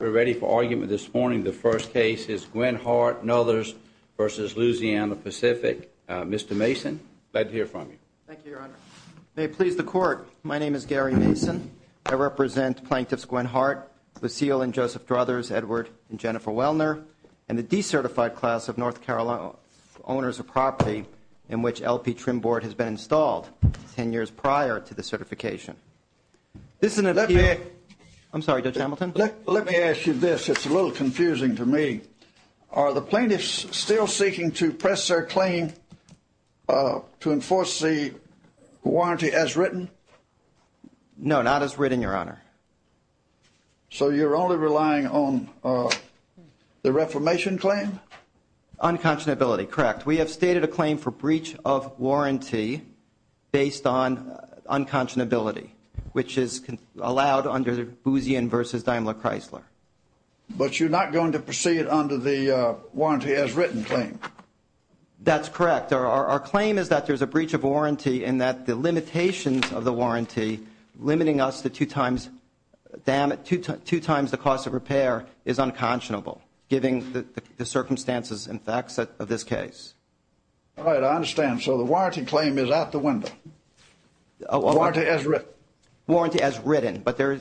We're ready for argument this morning. The first case is Gwen Hart and others versus Louisiana-Pacific. Mr. Mason, glad to hear from you. Thank you, Your Honor. May it please the Court, my name is Gary Mason. I represent Plaintiffs Gwen Hart, Lucille and Joseph Druthers, Edward and Jennifer Wellner, and the decertified class of North Carolina owners of property in which LP Trim Board has been installed ten years prior to the certification. Let me ask you this, it's a little confusing to me. Are the plaintiffs still seeking to press their claim to enforce the warranty as written? No, not as written, Your Honor. So you're only relying on the reformation claim? Unconscionability, correct. We have stated a claim for breach of warranty based on unconscionability, which is allowed under Boozian v. Daimler Chrysler. But you're not going to proceed under the warranty as written claim? That's correct. Our claim is that there's a breach of warranty and that the limitations of the warranty limiting us to two times the cost of repair is unconscionable, given the circumstances and facts of this case. All right, I understand. So the warranty claim is out the window? Warranty as written? Warranty as written. But to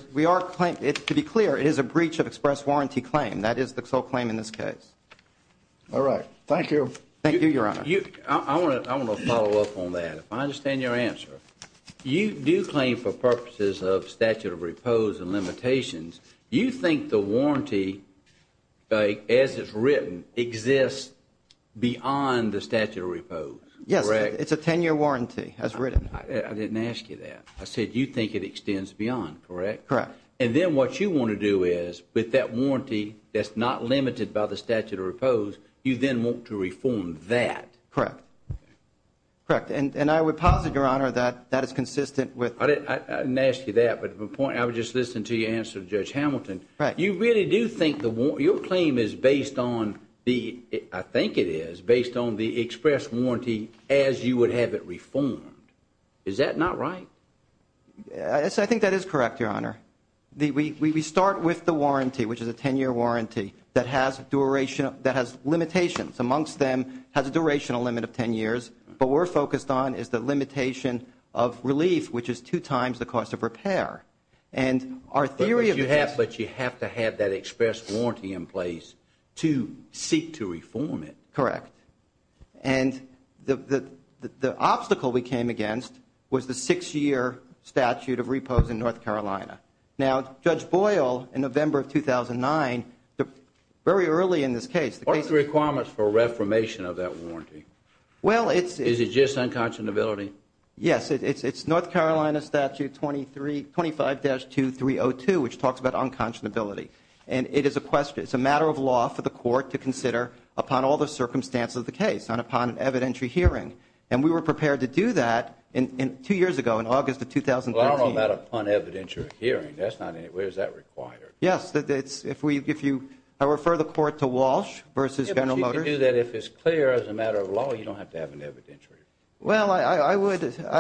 be clear, it is a breach of express warranty claim. That is the sole claim in this case. All right, thank you. Thank you, Your Honor. I want to follow up on that. If I understand your answer, you do claim for purposes of statute of repose and limitations. You think the warranty as it's written exists beyond the statute of repose, correct? Yes, it's a 10-year warranty as written. I didn't ask you that. I said you think it extends beyond, correct? Correct. And then what you want to do is, with that warranty that's not limited by the statute of repose, you then want to reform that? Correct. Correct. And I would posit, Your Honor, that that is consistent with... I didn't ask you that, but I would just listen to your answer to Judge Hamilton. Right. You really do think your claim is based on the, I think it is, based on the express warranty as you would have it reformed. Is that not right? I think that is correct, Your Honor. We start with the warranty, which is a 10-year warranty, that has limitations. Amongst them has a durational limit of 10 years. What we're focused on is the limitation of relief, which is two times the cost of repair. But you have to have that express warranty in place to seek to reform it. Correct. And the obstacle we came against was the six-year statute of repose in North Carolina. Now, Judge Boyle, in November of 2009, very early in this case... What are the requirements for reformation of that warranty? Well, it's... Is it just unconscionability? Yes, it's North Carolina Statute 25-2302, which talks about unconscionability. And it is a matter of law for the court to consider upon all the circumstances of the case and upon an evidentiary hearing. And we were prepared to do that two years ago, in August of 2013. Well, I don't know about upon evidentiary hearing. Where is that required? Yes. I refer the court to Walsh v. General Motors. But you can do that if it's clear as a matter of law. You don't have to have an evidentiary. Well, I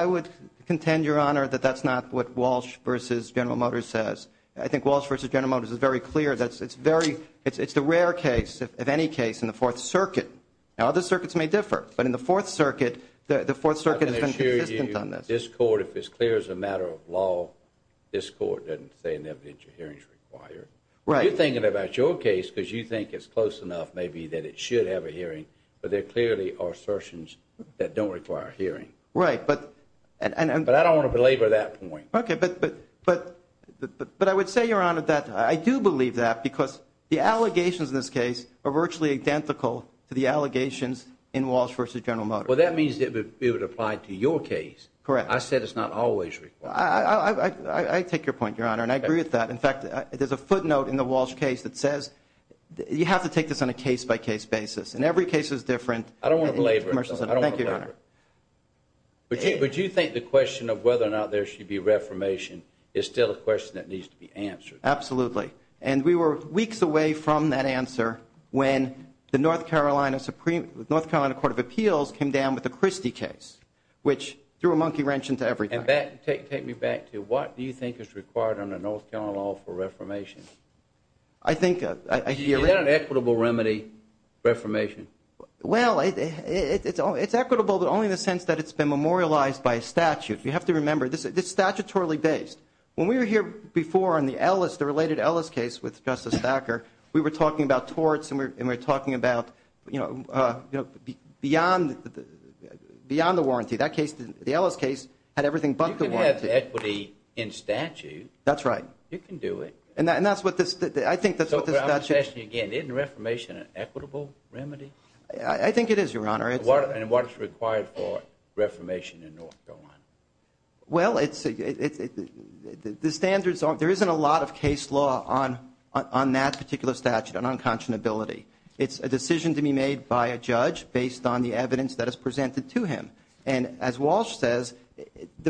would contend, Your Honor, that that's not what Walsh v. General Motors says. I think Walsh v. General Motors is very clear. It's the rare case, if any case, in the Fourth Circuit. Now, other circuits may differ. But in the Fourth Circuit, the Fourth Circuit has been consistent on this. I can assure you, this court, if it's clear as a matter of law, this court doesn't say an evidentiary hearing is required. Right. You're thinking about your case because you think it's close enough, maybe, that it should have a hearing. But there clearly are assertions that don't require a hearing. Right. But... But I don't want to belabor that point. Okay. But I would say, Your Honor, that I do believe that because the allegations in this case are virtually identical to the allegations in Walsh v. General Motors. Well, that means it would apply to your case. Correct. I said it's not always required. I take your point, Your Honor, and I agree with that. In fact, there's a footnote in the Walsh case that says you have to take this on a case-by-case basis. And every case is different. I don't want to belabor it. Thank you, Your Honor. But do you think the question of whether or not there should be reformation is still a question that needs to be answered? Absolutely. And we were weeks away from that answer when the North Carolina Supreme Court of Appeals came down with the Christie case, which threw a monkey wrench into everything. Take me back to what do you think is required under North Carolina law for reformation? I think... Is that an equitable remedy, reformation? Well, it's equitable, but only in the sense that it's been memorialized by a statute. You have to remember, this is statutorily based. When we were here before on the Ellis, the related Ellis case with Justice Thacker, we were talking about torts and we were talking about, you know, beyond the warranty. That case, the Ellis case, had everything but the warranty. You can have equity in statute. That's right. You can do it. And that's what this, I think that's what this statute... Let me ask you again. Isn't reformation an equitable remedy? I think it is, Your Honor. And what's required for reformation in North Carolina? Well, it's... The standards aren't... There isn't a lot of case law on that particular statute, on unconscionability. It's a decision to be made by a judge based on the evidence that is presented to him. And as Walsh says,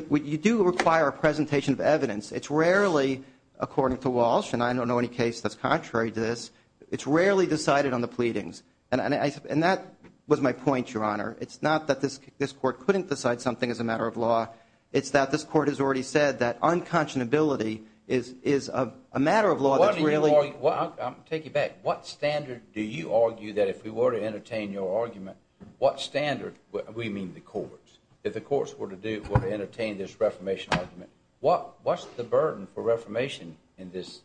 you do require a presentation of evidence. It's rarely, according to Walsh, and I don't know any case that's contrary to this, it's rarely decided on the pleadings. And that was my point, Your Honor. It's not that this Court couldn't decide something as a matter of law. It's that this Court has already said that unconscionability is a matter of law that's really... I'll take you back. What standard do you argue that if we were to entertain your argument, what standard... We mean the courts. If the courts were to entertain this reformation argument, what's the burden for reformation in these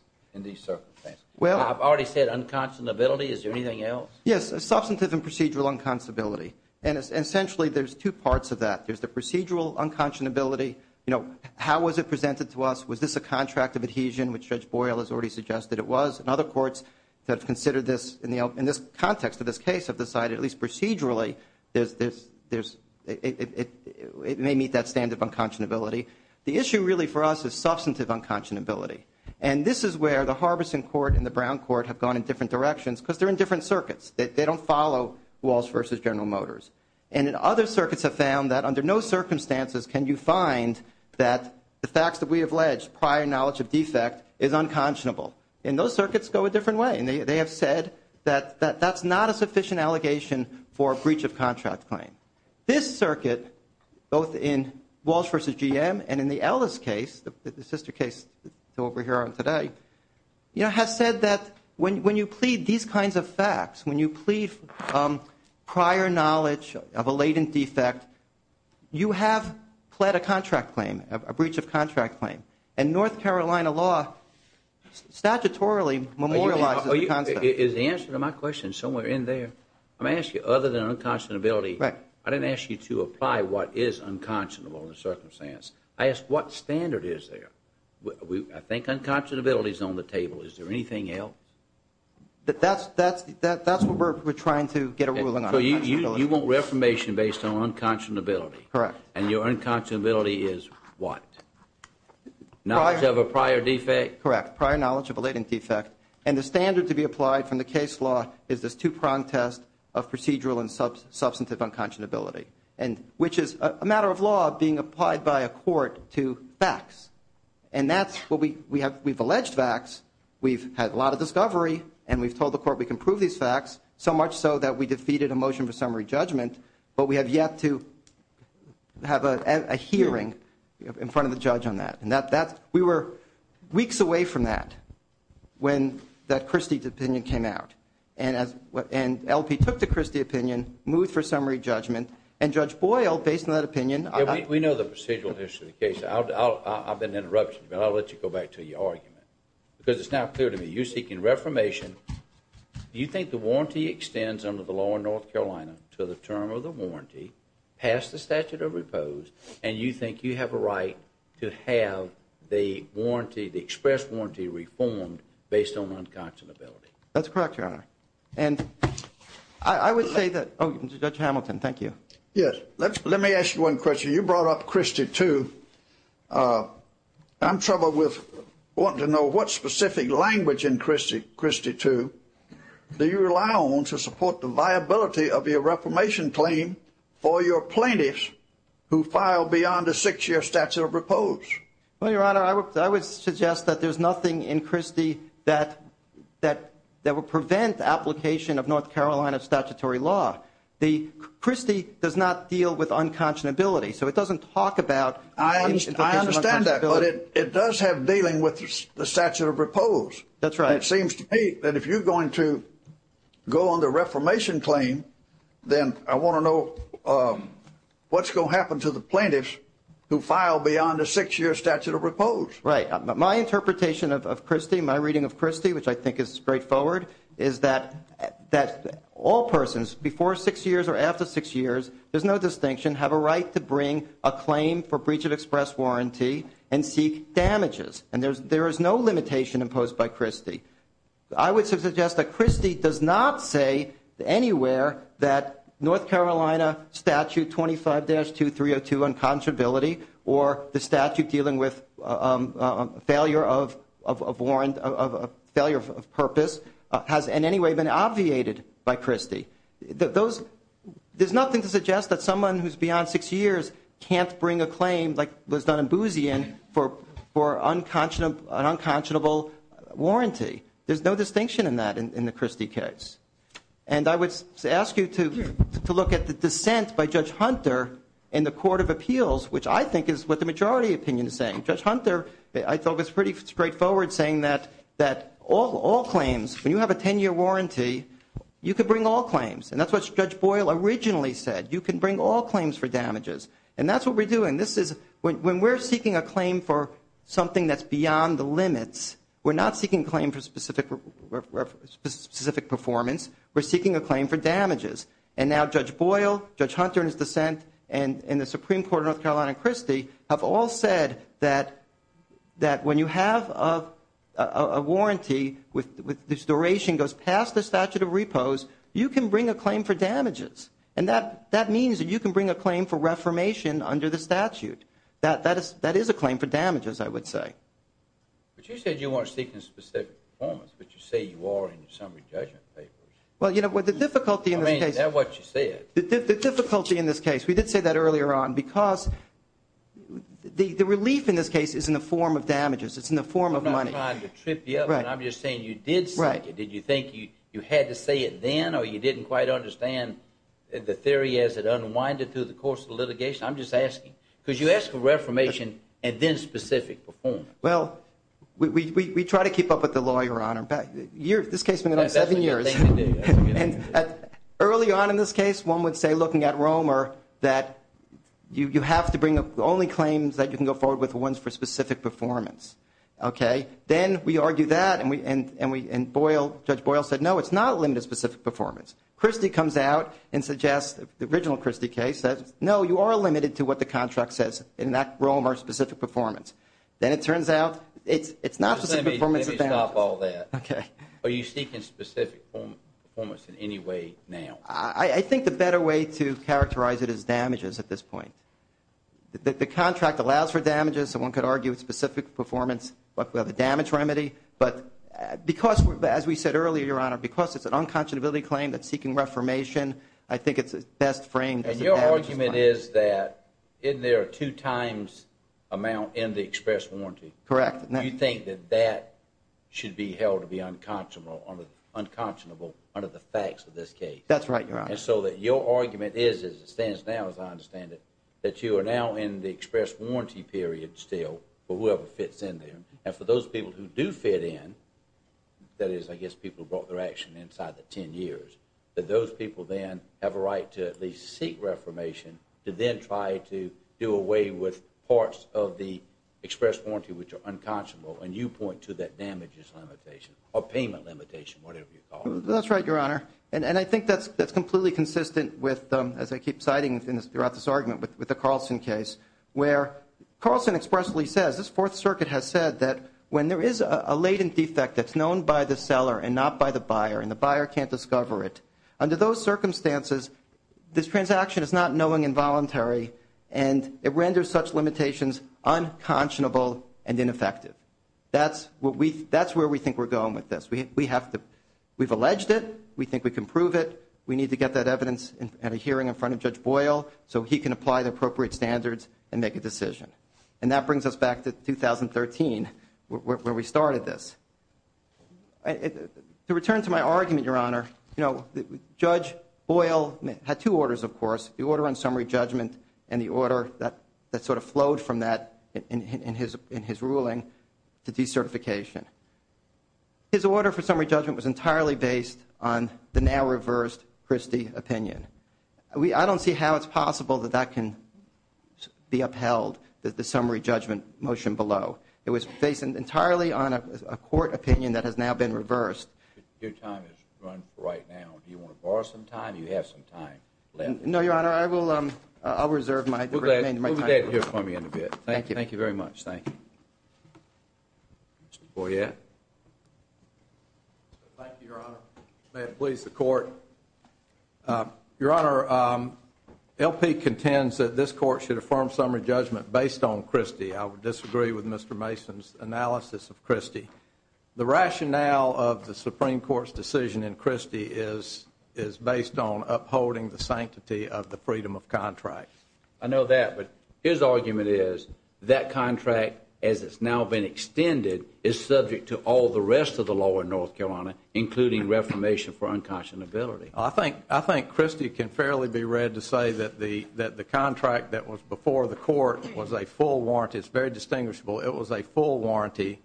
circumstances? Well... I've already said unconscionability. Is there anything else? Yes. Substantive and procedural unconscionability. And essentially, there's two parts of that. There's the procedural unconscionability. You know, how was it presented to us? Was this a contract of adhesion, which Judge Boyle has already suggested it was? And other courts that have considered this in this context of this case have decided, at least procedurally, it may meet that standard of unconscionability. The issue really for us is substantive unconscionability. And this is where the Harbison Court and the Brown Court have gone in different directions because they're in different circuits. They don't follow Walsh v. General Motors. And other circuits have found that under no circumstances can you find that the facts that we have alleged, prior knowledge of defect, is unconscionable. And those circuits go a different way. And they have said that that's not a sufficient allegation for a breach of contract claim. This circuit, both in Walsh v. GM and in the Ellis case, the sister case to what we're hearing today, you know, has said that when you plead these kinds of facts, when you plead prior knowledge of a latent defect, you have pled a contract claim, a breach of contract claim. And North Carolina law statutorily memorializes the concept. Is the answer to my question somewhere in there? Let me ask you, other than unconscionability, I didn't ask you to apply what is unconscionable in the circumstance. I asked what standard is there. I think unconscionability is on the table. Is there anything else? That's what we're trying to get a ruling on. So you want reformation based on unconscionability. Correct. And your unconscionability is what? Knowledge of a prior defect? Correct, prior knowledge of a latent defect. And the standard to be applied from the case law is this two-prong test of procedural and substantive unconscionability, which is a matter of law being applied by a court to facts. And that's what we have. We've alleged facts. We've had a lot of discovery. And we've told the court we can prove these facts, so much so that we defeated a motion for summary judgment. But we have yet to have a hearing in front of the judge on that. And we were weeks away from that when that Christie's opinion came out. And LP took the Christie opinion, moved for summary judgment, and Judge Boyle, based on that opinion. Yeah, we know the procedural history of the case. I'll be an interruption, but I'll let you go back to your argument because it's now clear to me. You're seeking reformation. You think the warranty extends under the law in North Carolina to the term of the warranty past the statute of repose, and you think you have a right to have the warranty, the express warranty reformed based on unconscionability? That's correct, Your Honor. And I would say that, oh, Judge Hamilton, thank you. Yes, let me ask you one question. You brought up Christie II. I'm troubled with wanting to know what specific language in Christie II do you rely on to support the viability of your reformation claim for your plaintiffs who file beyond a six-year statute of repose? Well, Your Honor, I would suggest that there's nothing in Christie that would prevent application of North Carolina statutory law. Christie does not deal with unconscionability, so it doesn't talk about application of unconscionability. I understand that, but it does have dealing with the statute of repose. That's right. It seems to me that if you're going to go on the reformation claim, then I want to know what's going to happen to the plaintiffs who file beyond a six-year statute of repose. Right. My interpretation of Christie, my reading of Christie, which I think is straightforward, is that all persons before six years or after six years, there's no distinction, have a right to bring a claim for breach of express warranty and seek damages. And there is no limitation imposed by Christie. I would suggest that Christie does not say anywhere that North Carolina Statute 25-2302, or the statute dealing with failure of purpose, has in any way been obviated by Christie. There's nothing to suggest that someone who's beyond six years can't bring a claim, like was done in Boozian, for an unconscionable warranty. There's no distinction in that in the Christie case. And I would ask you to look at the dissent by Judge Hunter in the Court of Appeals, which I think is what the majority opinion is saying. Judge Hunter, I thought, was pretty straightforward, saying that all claims, when you have a 10-year warranty, you can bring all claims. And that's what Judge Boyle originally said. You can bring all claims for damages. And that's what we're doing. When we're seeking a claim for something that's beyond the limits, we're not seeking a claim for specific performance. We're seeking a claim for damages. And now Judge Boyle, Judge Hunter in his dissent, and the Supreme Court of North Carolina and Christie, have all said that when you have a warranty whose duration goes past the statute of repose, you can bring a claim for damages. And that means that you can bring a claim for reformation under the statute. That is a claim for damages, I would say. But you said you weren't seeking specific performance, but you say you are in your summary judgment papers. Well, you know, the difficulty in this case. I mean, is that what you said? The difficulty in this case, we did say that earlier on, because the relief in this case is in the form of damages. It's in the form of money. I'm not trying to trip you up. I'm just saying you did say it. Did you think you had to say it then, or you didn't quite understand the theory as it unwinded through the course of the litigation? I'm just asking. Because you ask for reformation and then specific performance. Well, we try to keep up with the law, Your Honor. This case has been going on seven years. That's what you think we did. Early on in this case, one would say, looking at Romer, that you have to bring only claims that you can go forward with, the ones for specific performance. Okay? Then we argue that, and Judge Boyle said, no, it's not a limited specific performance. Christie comes out and suggests, the original Christie case, and says, no, you are limited to what the contract says. In that, Romer, specific performance. Then it turns out it's not specific performance. Let me stop all that. Okay. Are you seeking specific performance in any way now? I think the better way to characterize it is damages at this point. The contract allows for damages, and one could argue specific performance, but we have a damage remedy. But because, as we said earlier, Your Honor, because it's an unconscionability claim that's seeking reformation, I think it's best framed as a damage remedy. Your argument is that, isn't there a two-times amount in the express warranty? Correct. Do you think that that should be held to be unconscionable under the facts of this case? That's right, Your Honor. And so your argument is, as it stands now, as I understand it, that you are now in the express warranty period still for whoever fits in there. And for those people who do fit in, that is, I guess, people who brought their action inside the ten years, that those people then have a right to at least seek reformation to then try to do away with parts of the express warranty which are unconscionable. And you point to that damages limitation or payment limitation, whatever you call it. That's right, Your Honor. And I think that's completely consistent with, as I keep citing throughout this argument, with the Carlson case, where Carlson expressly says, this Fourth Circuit has said that when there is a latent defect that's known by the seller and not by the buyer and the buyer can't discover it, under those circumstances, this transaction is not knowing involuntary and it renders such limitations unconscionable and ineffective. That's where we think we're going with this. We've alleged it. We think we can prove it. We need to get that evidence at a hearing in front of Judge Boyle so he can apply the appropriate standards and make a decision. And that brings us back to 2013 where we started this. To return to my argument, Your Honor, Judge Boyle had two orders, of course, the order on summary judgment and the order that sort of flowed from that in his ruling to decertification. His order for summary judgment was entirely based on the now-reversed Christie opinion. I don't see how it's possible that that can be upheld, the summary judgment motion below. It was based entirely on a court opinion that has now been reversed. Your time has run for right now. Do you want to borrow some time or do you have some time left? No, Your Honor, I will reserve my time. We'll be back here for you in a bit. Thank you. Thank you very much. Thank you. Mr. Boyette. Thank you, Your Honor. May it please the Court. Your Honor, LP contends that this Court should affirm summary judgment based on Christie. I would disagree with Mr. Mason's analysis of Christie. The rationale of the Supreme Court's decision in Christie is based on upholding the sanctity of the freedom of contract. I know that, but his argument is that contract, as it's now been extended, is subject to all the rest of the law in North Carolina, including reformation for unconscionability. I think Christie can fairly be read to say that the contract that was before the Court was a full warranty. It's very distinguishable. It was a full warranty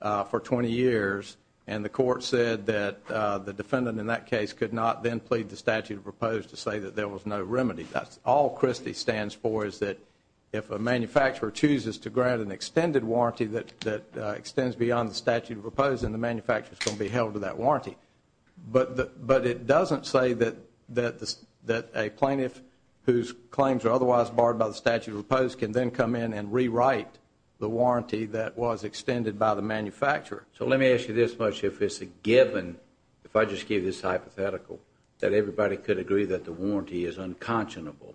for 20 years, and the Court said that the defendant in that case could not then plead the statute of proposed to say that there was no remedy. That's all Christie stands for is that if a manufacturer chooses to grant an extended warranty that extends beyond the statute of proposed, then the manufacturer is going to be held to that warranty. But it doesn't say that a plaintiff whose claims are otherwise barred by the statute of proposed can then come in and rewrite the warranty that was extended by the manufacturer. So let me ask you this much. If it's a given, if I just give this hypothetical, that everybody could agree that the warranty is unconscionable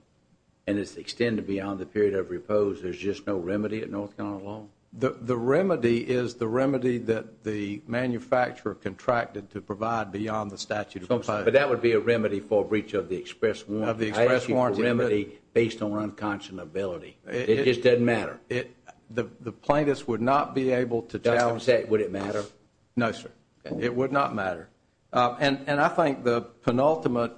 and it's extended beyond the period of repose, there's just no remedy at North Carolina law? The remedy is the remedy that the manufacturer contracted to provide beyond the statute of proposed. But that would be a remedy for a breach of the express warranty. I ask you for a remedy based on unconscionability. It just doesn't matter. The plaintiffs would not be able to challenge it. Would it matter? No, sir. It would not matter. And I think the penultimate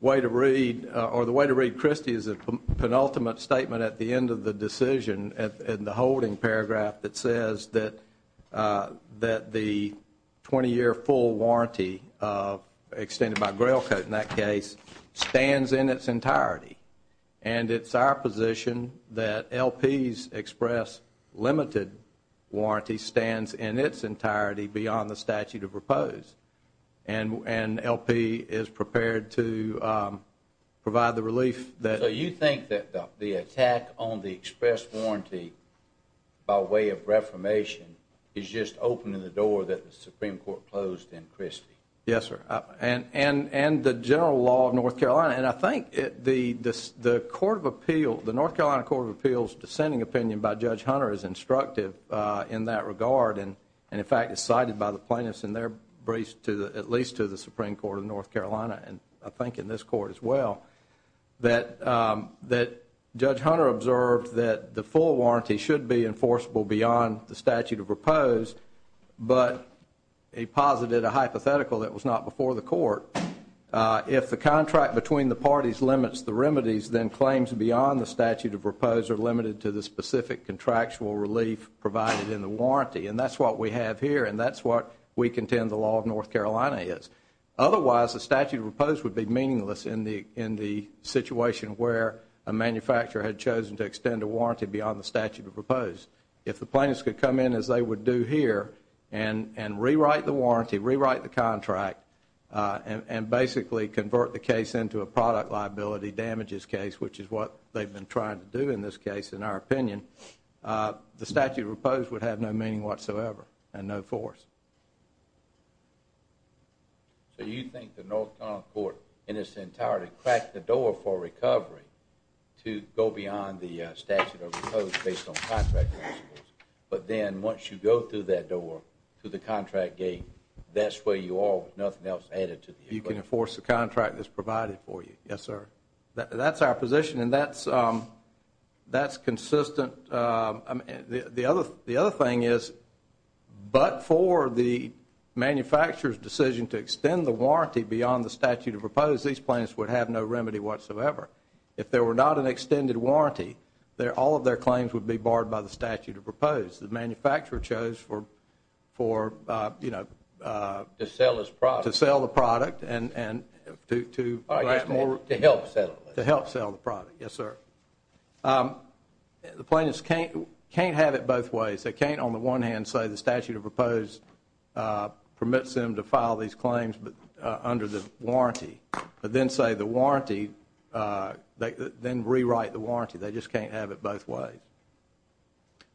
way to read or the way to read Christie is a penultimate statement at the end of the decision in the holding paragraph that says that the 20-year full warranty extended by grail code in that case stands in its entirety. And it's our position that LP's express limited warranty stands in its entirety beyond the statute of proposed. And LP is prepared to provide the relief that… So you think that the attack on the express warranty by way of reformation is just opening the door that the Supreme Court closed in Christie? Yes, sir. And the general law of North Carolina. And I think the North Carolina Court of Appeals' dissenting opinion by Judge Hunter is instructive in that regard. And, in fact, it's cited by the plaintiffs in their briefs at least to the Supreme Court of North Carolina and I think in this court as well that Judge Hunter observed that the full warranty should be enforceable beyond the statute of proposed, but he posited a hypothetical that was not before the court. If the contract between the parties limits the remedies, then claims beyond the statute of proposed are limited to the specific contractual relief provided in the warranty. And that's what we have here and that's what we contend the law of North Carolina is. Otherwise, the statute of proposed would be meaningless in the situation where a manufacturer had chosen to extend a warranty beyond the statute of proposed. If the plaintiffs could come in as they would do here and rewrite the warranty, rewrite the contract, and basically convert the case into a product liability damages case, which is what they've been trying to do in this case, in our opinion, the statute of proposed would have no meaning whatsoever and no force. So you think the North Carolina court in its entirety cracked the door for recovery to go beyond the statute of proposed based on contract principles, but then once you go through that door to the contract gate, that's where you are with nothing else added to the equation. You can enforce the contract that's provided for you. Yes, sir. That's our position and that's consistent. The other thing is but for the manufacturer's decision to extend the warranty beyond the statute of proposed, these plaintiffs would have no remedy whatsoever. If there were not an extended warranty, all of their claims would be barred by the statute of proposed. The manufacturer chose to sell the product and to grant more. To help sell it. To help sell the product. Yes, sir. The plaintiffs can't have it both ways. They can't on the one hand say the statute of proposed permits them to file these claims under the warranty, but then say the warranty, then rewrite the warranty. They just can't have it both ways.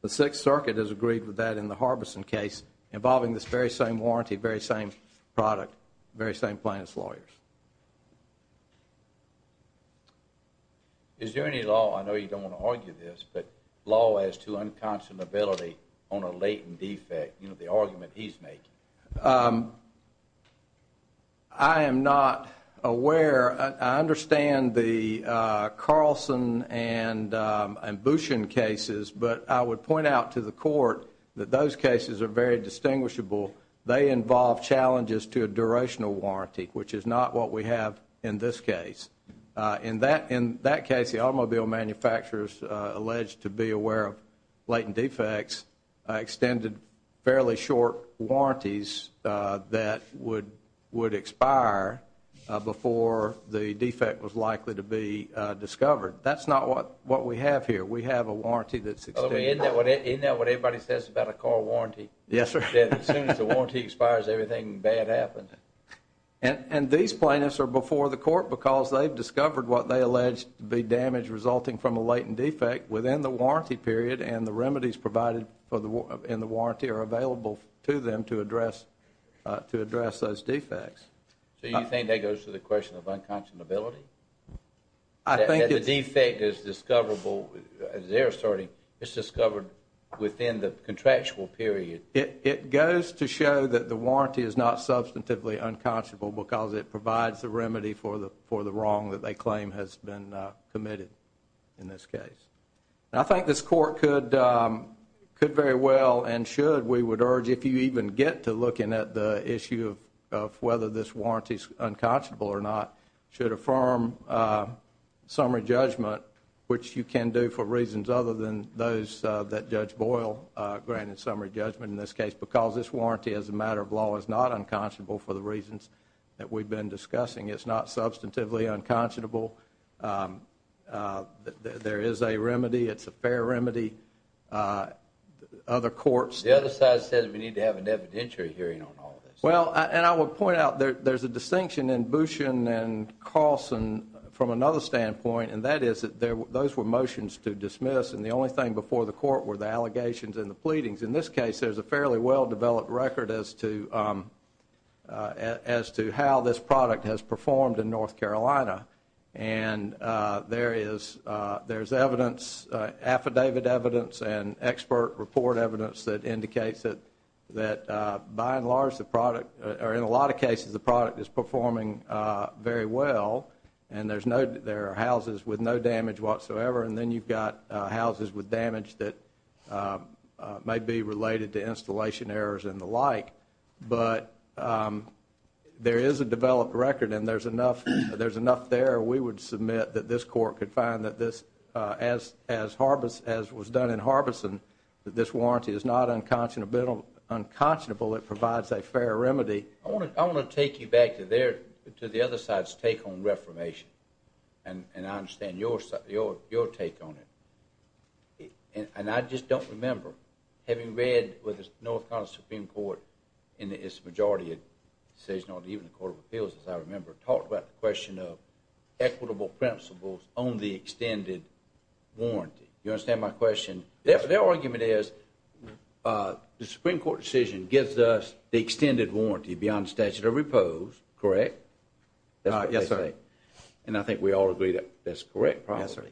The Sixth Circuit has agreed with that in the Harbison case involving this very same warranty, very same product, very same plaintiff's lawyers. Is there any law, I know you don't want to argue this, but law as to unconscionability on a latent defect, you know, the argument he's making? I am not aware. I understand the Carlson and Bouchon cases, but I would point out to the court that those cases are very distinguishable. They involve challenges to a durational warranty, which is not what we have in this case. In that case, the automobile manufacturers alleged to be aware of latent defects, extended fairly short warranties that would expire before the defect was likely to be discovered. That's not what we have here. We have a warranty that's extended. Isn't that what everybody says about a car warranty? Yes, sir. As soon as the warranty expires, everything bad happens. And these plaintiffs are before the court because they've discovered what they allege to be damage resulting from a latent defect within the warranty period, and the remedies provided in the warranty are available to them to address those defects. So you think that goes to the question of unconscionability? That the defect is discoverable, as they're asserting, it's discovered within the contractual period. It goes to show that the warranty is not substantively unconscionable because it provides the remedy for the wrong that they claim has been committed in this case. I think this court could very well and should, we would urge, if you even get to looking at the issue of whether this warranty is unconscionable or not, should affirm summary judgment, which you can do for reasons other than those that Judge Boyle granted summary judgment in this case because this warranty as a matter of law is not unconscionable for the reasons that we've been discussing. It's not substantively unconscionable. There is a remedy. It's a fair remedy. Other courts. The other side says we need to have an evidentiary hearing on all this. Well, and I would point out there's a distinction in Boushin and Carlson from another standpoint, and that is that those were motions to dismiss, and the only thing before the court were the allegations and the pleadings. In this case, there's a fairly well-developed record as to how this product has performed in North Carolina, and there is evidence, affidavit evidence and expert report evidence that indicates that, by and large, or in a lot of cases, the product is performing very well, and there are houses with no damage whatsoever, and then you've got houses with damage that may be related to installation errors and the like. But there is a developed record, and there's enough there. We would submit that this court could find that this, as was done in Harbeson, that this warranty is not unconscionable. It provides a fair remedy. I want to take you back to the other side's take on reformation, and I understand your take on it, and I just don't remember having read what the North Carolina Supreme Court in its majority decision, or even the Court of Appeals, as I remember, talked about the question of equitable principles on the extended warranty. You understand my question? Their argument is the Supreme Court decision gives us the extended warranty beyond statute of repose, correct? Yes, sir. And I think we all agree that that's correct, probably. Yes, sir.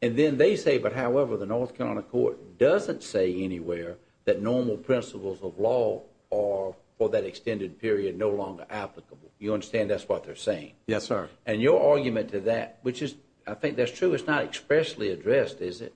And then they say, but however, the North Carolina court doesn't say anywhere that normal principles of law are, for that extended period, no longer applicable. You understand that's what they're saying? Yes, sir. And your argument to that, which is, I think that's true, it's not expressly addressed, is it?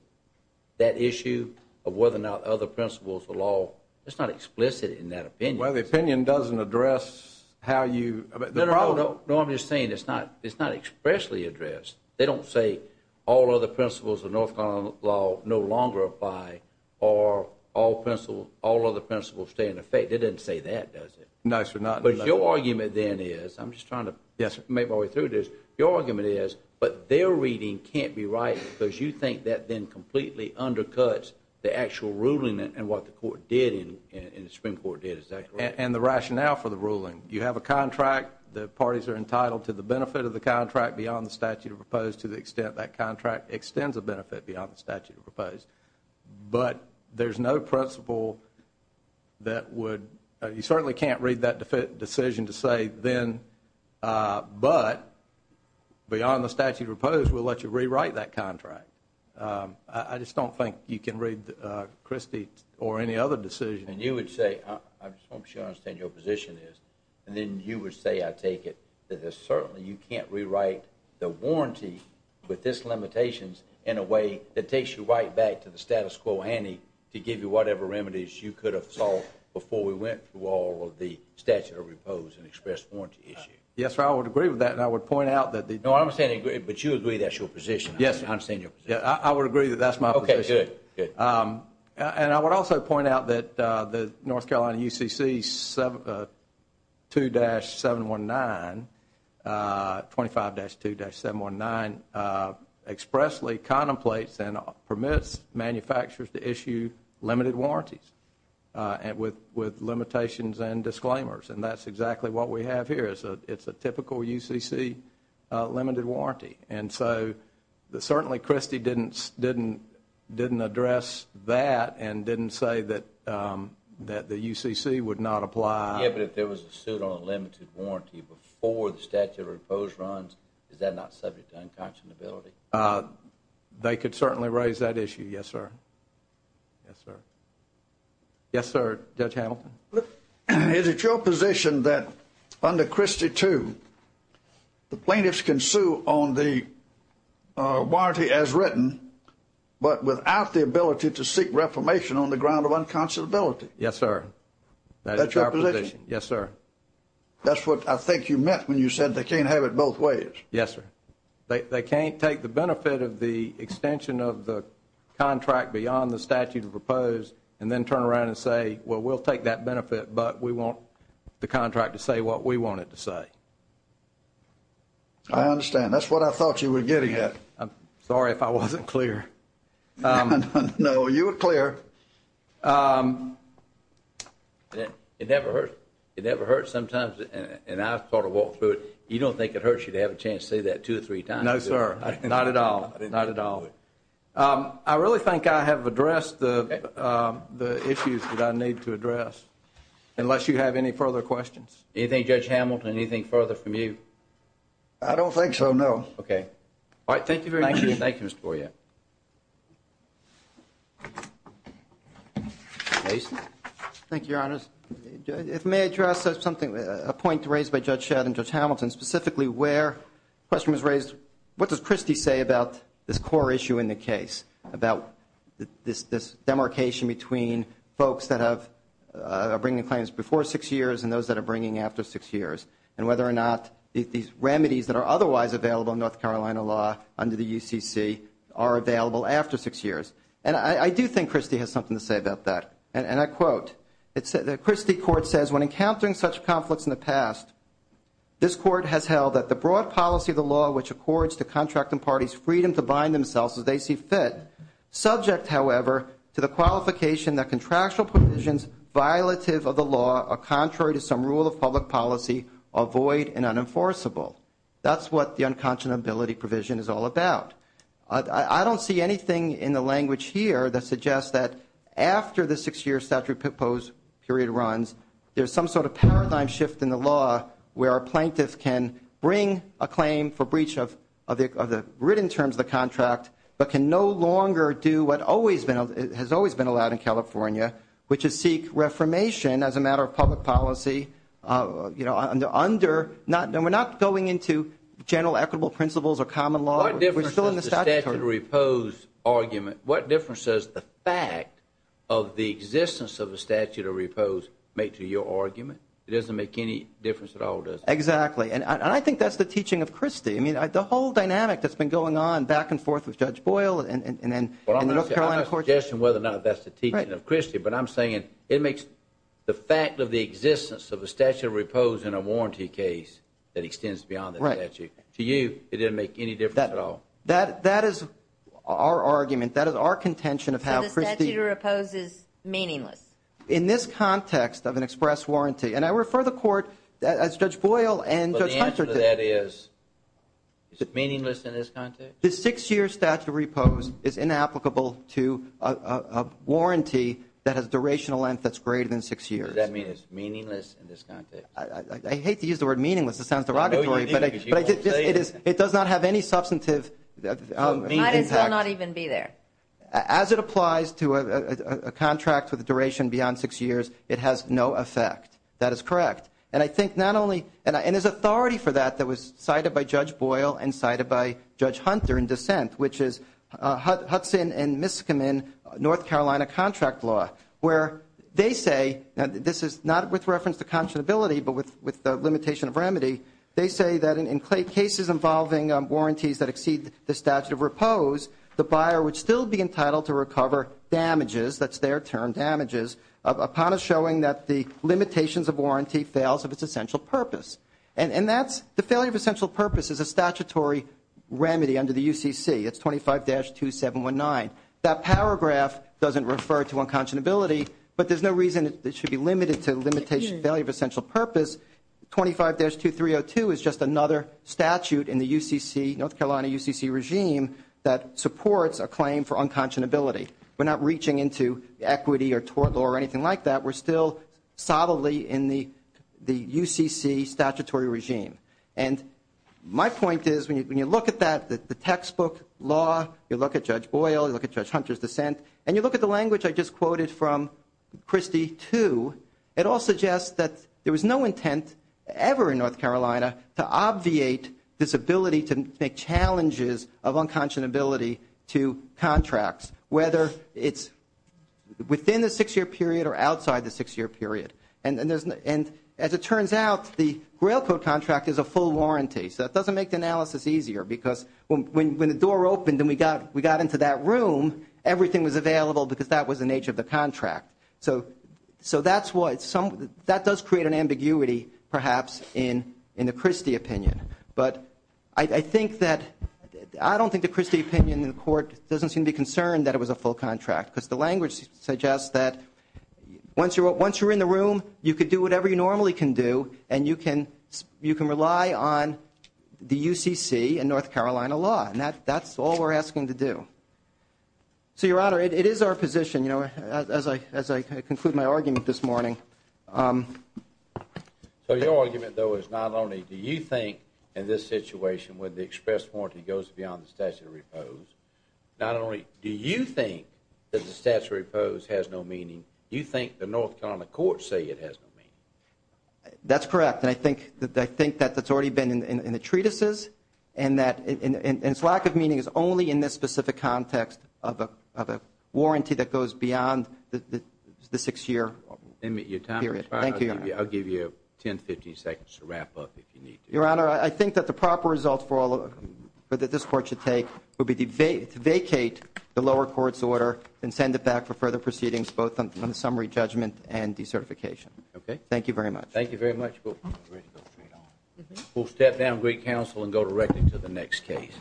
That issue of whether or not other principles of law, it's not explicit in that opinion. Well, the opinion doesn't address how you No, I'm just saying it's not expressly addressed. They don't say all other principles of North Carolina law no longer apply, or all other principles stay in effect. It doesn't say that, does it? No, sir. But your argument then is, I'm just trying to make my way through this, but their reading can't be right because you think that then completely undercuts the actual ruling and what the Supreme Court did, is that correct? And the rationale for the ruling. You have a contract. The parties are entitled to the benefit of the contract beyond the statute of proposed to the extent that contract extends a benefit beyond the statute of proposed. But there's no principle that would, you certainly can't read that decision to say then, but beyond the statute of proposed, we'll let you rewrite that contract. I just don't think you can read Christie or any other decision. And you would say, I'm sure I understand your position is, and then you would say I take it that there's certainly you can't rewrite the warranty with this limitations in a way that takes you right back to the status quo handy to give you whatever remedies you could have solved before we went through all of the statute of proposed and expressed warranty issue. Yes, sir, I would agree with that, and I would point out that the No, I'm saying, but you agree that's your position. Yes, I understand your position. Yeah, I would agree that that's my position. Okay, good. And I would also point out that the North Carolina UCC 2-719, 25-2-719, expressly contemplates and permits manufacturers to issue limited warranties. With limitations and disclaimers, and that's exactly what we have here. It's a typical UCC limited warranty, and so certainly Christie didn't address that and didn't say that the UCC would not apply. Yeah, but if there was a suit on a limited warranty before the statute of proposed runs, is that not subject to unconscionability? They could certainly raise that issue, yes, sir. Yes, sir. Yes, sir, Judge Hamilton. Is it your position that under Christie 2, the plaintiffs can sue on the warranty as written, but without the ability to seek reformation on the ground of unconscionability? Yes, sir. That's your position? Yes, sir. That's what I think you meant when you said they can't have it both ways. Yes, sir. They can't take the benefit of the extension of the contract beyond the statute of proposed and then turn around and say, well, we'll take that benefit, but we want the contract to say what we want it to say. I understand. That's what I thought you were getting at. I'm sorry if I wasn't clear. No, you were clear. It never hurts. It never hurts sometimes, and I've sort of walked through it. You don't think it hurts you to have a chance to say that two or three times? No, sir. Not at all. Not at all. I really think I have addressed the issues that I need to address, unless you have any further questions. Anything, Judge Hamilton, anything further from you? I don't think so, no. Okay. All right, thank you very much. Thank you, Mr. Boyette. Mason? Thank you, Your Honors. If I may address something, a point raised by Judge Shadd and Judge Hamilton, specifically where a question was raised, what does Christie say about this core issue in the case, about this demarcation between folks that are bringing claims before six years and those that are bringing after six years, and whether or not these remedies that are otherwise available in North Carolina law under the UCC are available after six years. And I do think Christie has something to say about that, and I quote, Christie Court says, When encountering such conflicts in the past, this Court has held that the broad policy of the law which accords to contracting parties' freedom to bind themselves as they see fit, subject, however, to the qualification that contractual provisions violative of the law are contrary to some rule of public policy, are void and unenforceable. That's what the unconscionability provision is all about. I don't see anything in the language here that suggests that after the six-year statute proposed period runs, there's some sort of paradigm shift in the law where a plaintiff can bring a claim for breach of the written terms of the contract, but can no longer do what has always been allowed in California, which is seek reformation as a matter of public policy under, and we're not going into general equitable principles or common law. What difference does the statute of repose argument, what difference does the fact of the existence of a statute of repose make to your argument? It doesn't make any difference at all, does it? Exactly, and I think that's the teaching of Christie. I mean, the whole dynamic that's been going on back and forth with Judge Boyle and the North Carolina courts. I'm not suggesting whether or not that's the teaching of Christie, but I'm saying it makes the fact of the existence of a statute of repose in a warranty case that extends beyond the statute. To you, it didn't make any difference at all? That is our argument. That is our contention of how Christie. So the statute of repose is meaningless? In this context of an express warranty, and I refer the court as Judge Boyle and Judge Hunter. But the answer to that is, is it meaningless in this context? The six-year statute of repose is inapplicable to a warranty that has a durational length that's greater than six years. Does that mean it's meaningless in this context? I hate to use the word meaningless. It sounds derogatory, but it does not have any substantive impact. Might as well not even be there. As it applies to a contract with a duration beyond six years, it has no effect. That is correct. And I think not only – and there's authority for that that was cited by Judge Boyle and cited by Judge Hunter in dissent, which is Hudson and Miskamin North Carolina contract law, where they say – and this is not with reference to conscionability, but with the limitation of remedy – they say that in cases involving warranties that exceed the statute of repose, the buyer would still be entitled to recover damages – that's their term, damages – upon a showing that the limitations of warranty fails of its essential purpose. And that's – the failure of essential purpose is a statutory remedy under the UCC. It's 25-2719. That paragraph doesn't refer to unconscionability, but there's no reason it should be limited to the limitation of failure of essential purpose. 25-2302 is just another statute in the UCC, North Carolina UCC regime, that supports a claim for unconscionability. We're not reaching into equity or tort law or anything like that. We're still solidly in the UCC statutory regime. And my point is, when you look at that, the textbook law, you look at Judge Boyle, you look at Judge Hunter's dissent, and you look at the language I just quoted from Christie, too, it all suggests that there was no intent ever in North Carolina to obviate this ability to make challenges of unconscionability to contracts, whether it's within the six-year period or outside the six-year period. And as it turns out, the grail code contract is a full warranty. So that doesn't make the analysis easier because when the door opened and we got into that room, everything was available because that was the nature of the contract. So that's what – that does create an ambiguity, perhaps, in the Christie opinion. But I think that – I don't think the Christie opinion in the court doesn't seem to be concerned that it was a full contract because the language suggests that once you're in the room, you can do whatever you normally can do and you can rely on the UCC and North Carolina law. And that's all we're asking to do. So, Your Honor, it is our position, you know, as I conclude my argument this morning. So your argument, though, is not only do you think, in this situation, where the express warranty goes beyond the statute of repose, not only do you think that the statute of repose has no meaning, you think the North Carolina courts say it has no meaning. That's correct. And I think that that's already been in the treatises and that – and its lack of meaning is only in this specific context of a warranty that goes beyond the six-year period. Your time is up. Thank you, Your Honor. I'll give you 10, 15 seconds to wrap up if you need to. Your Honor, I think that the proper result that this court should take would be to vacate the lower court's order and send it back for further proceedings, both on the summary judgment and decertification. Okay. Thank you very much. Thank you very much. We'll step down, great counsel, and go directly to the next case.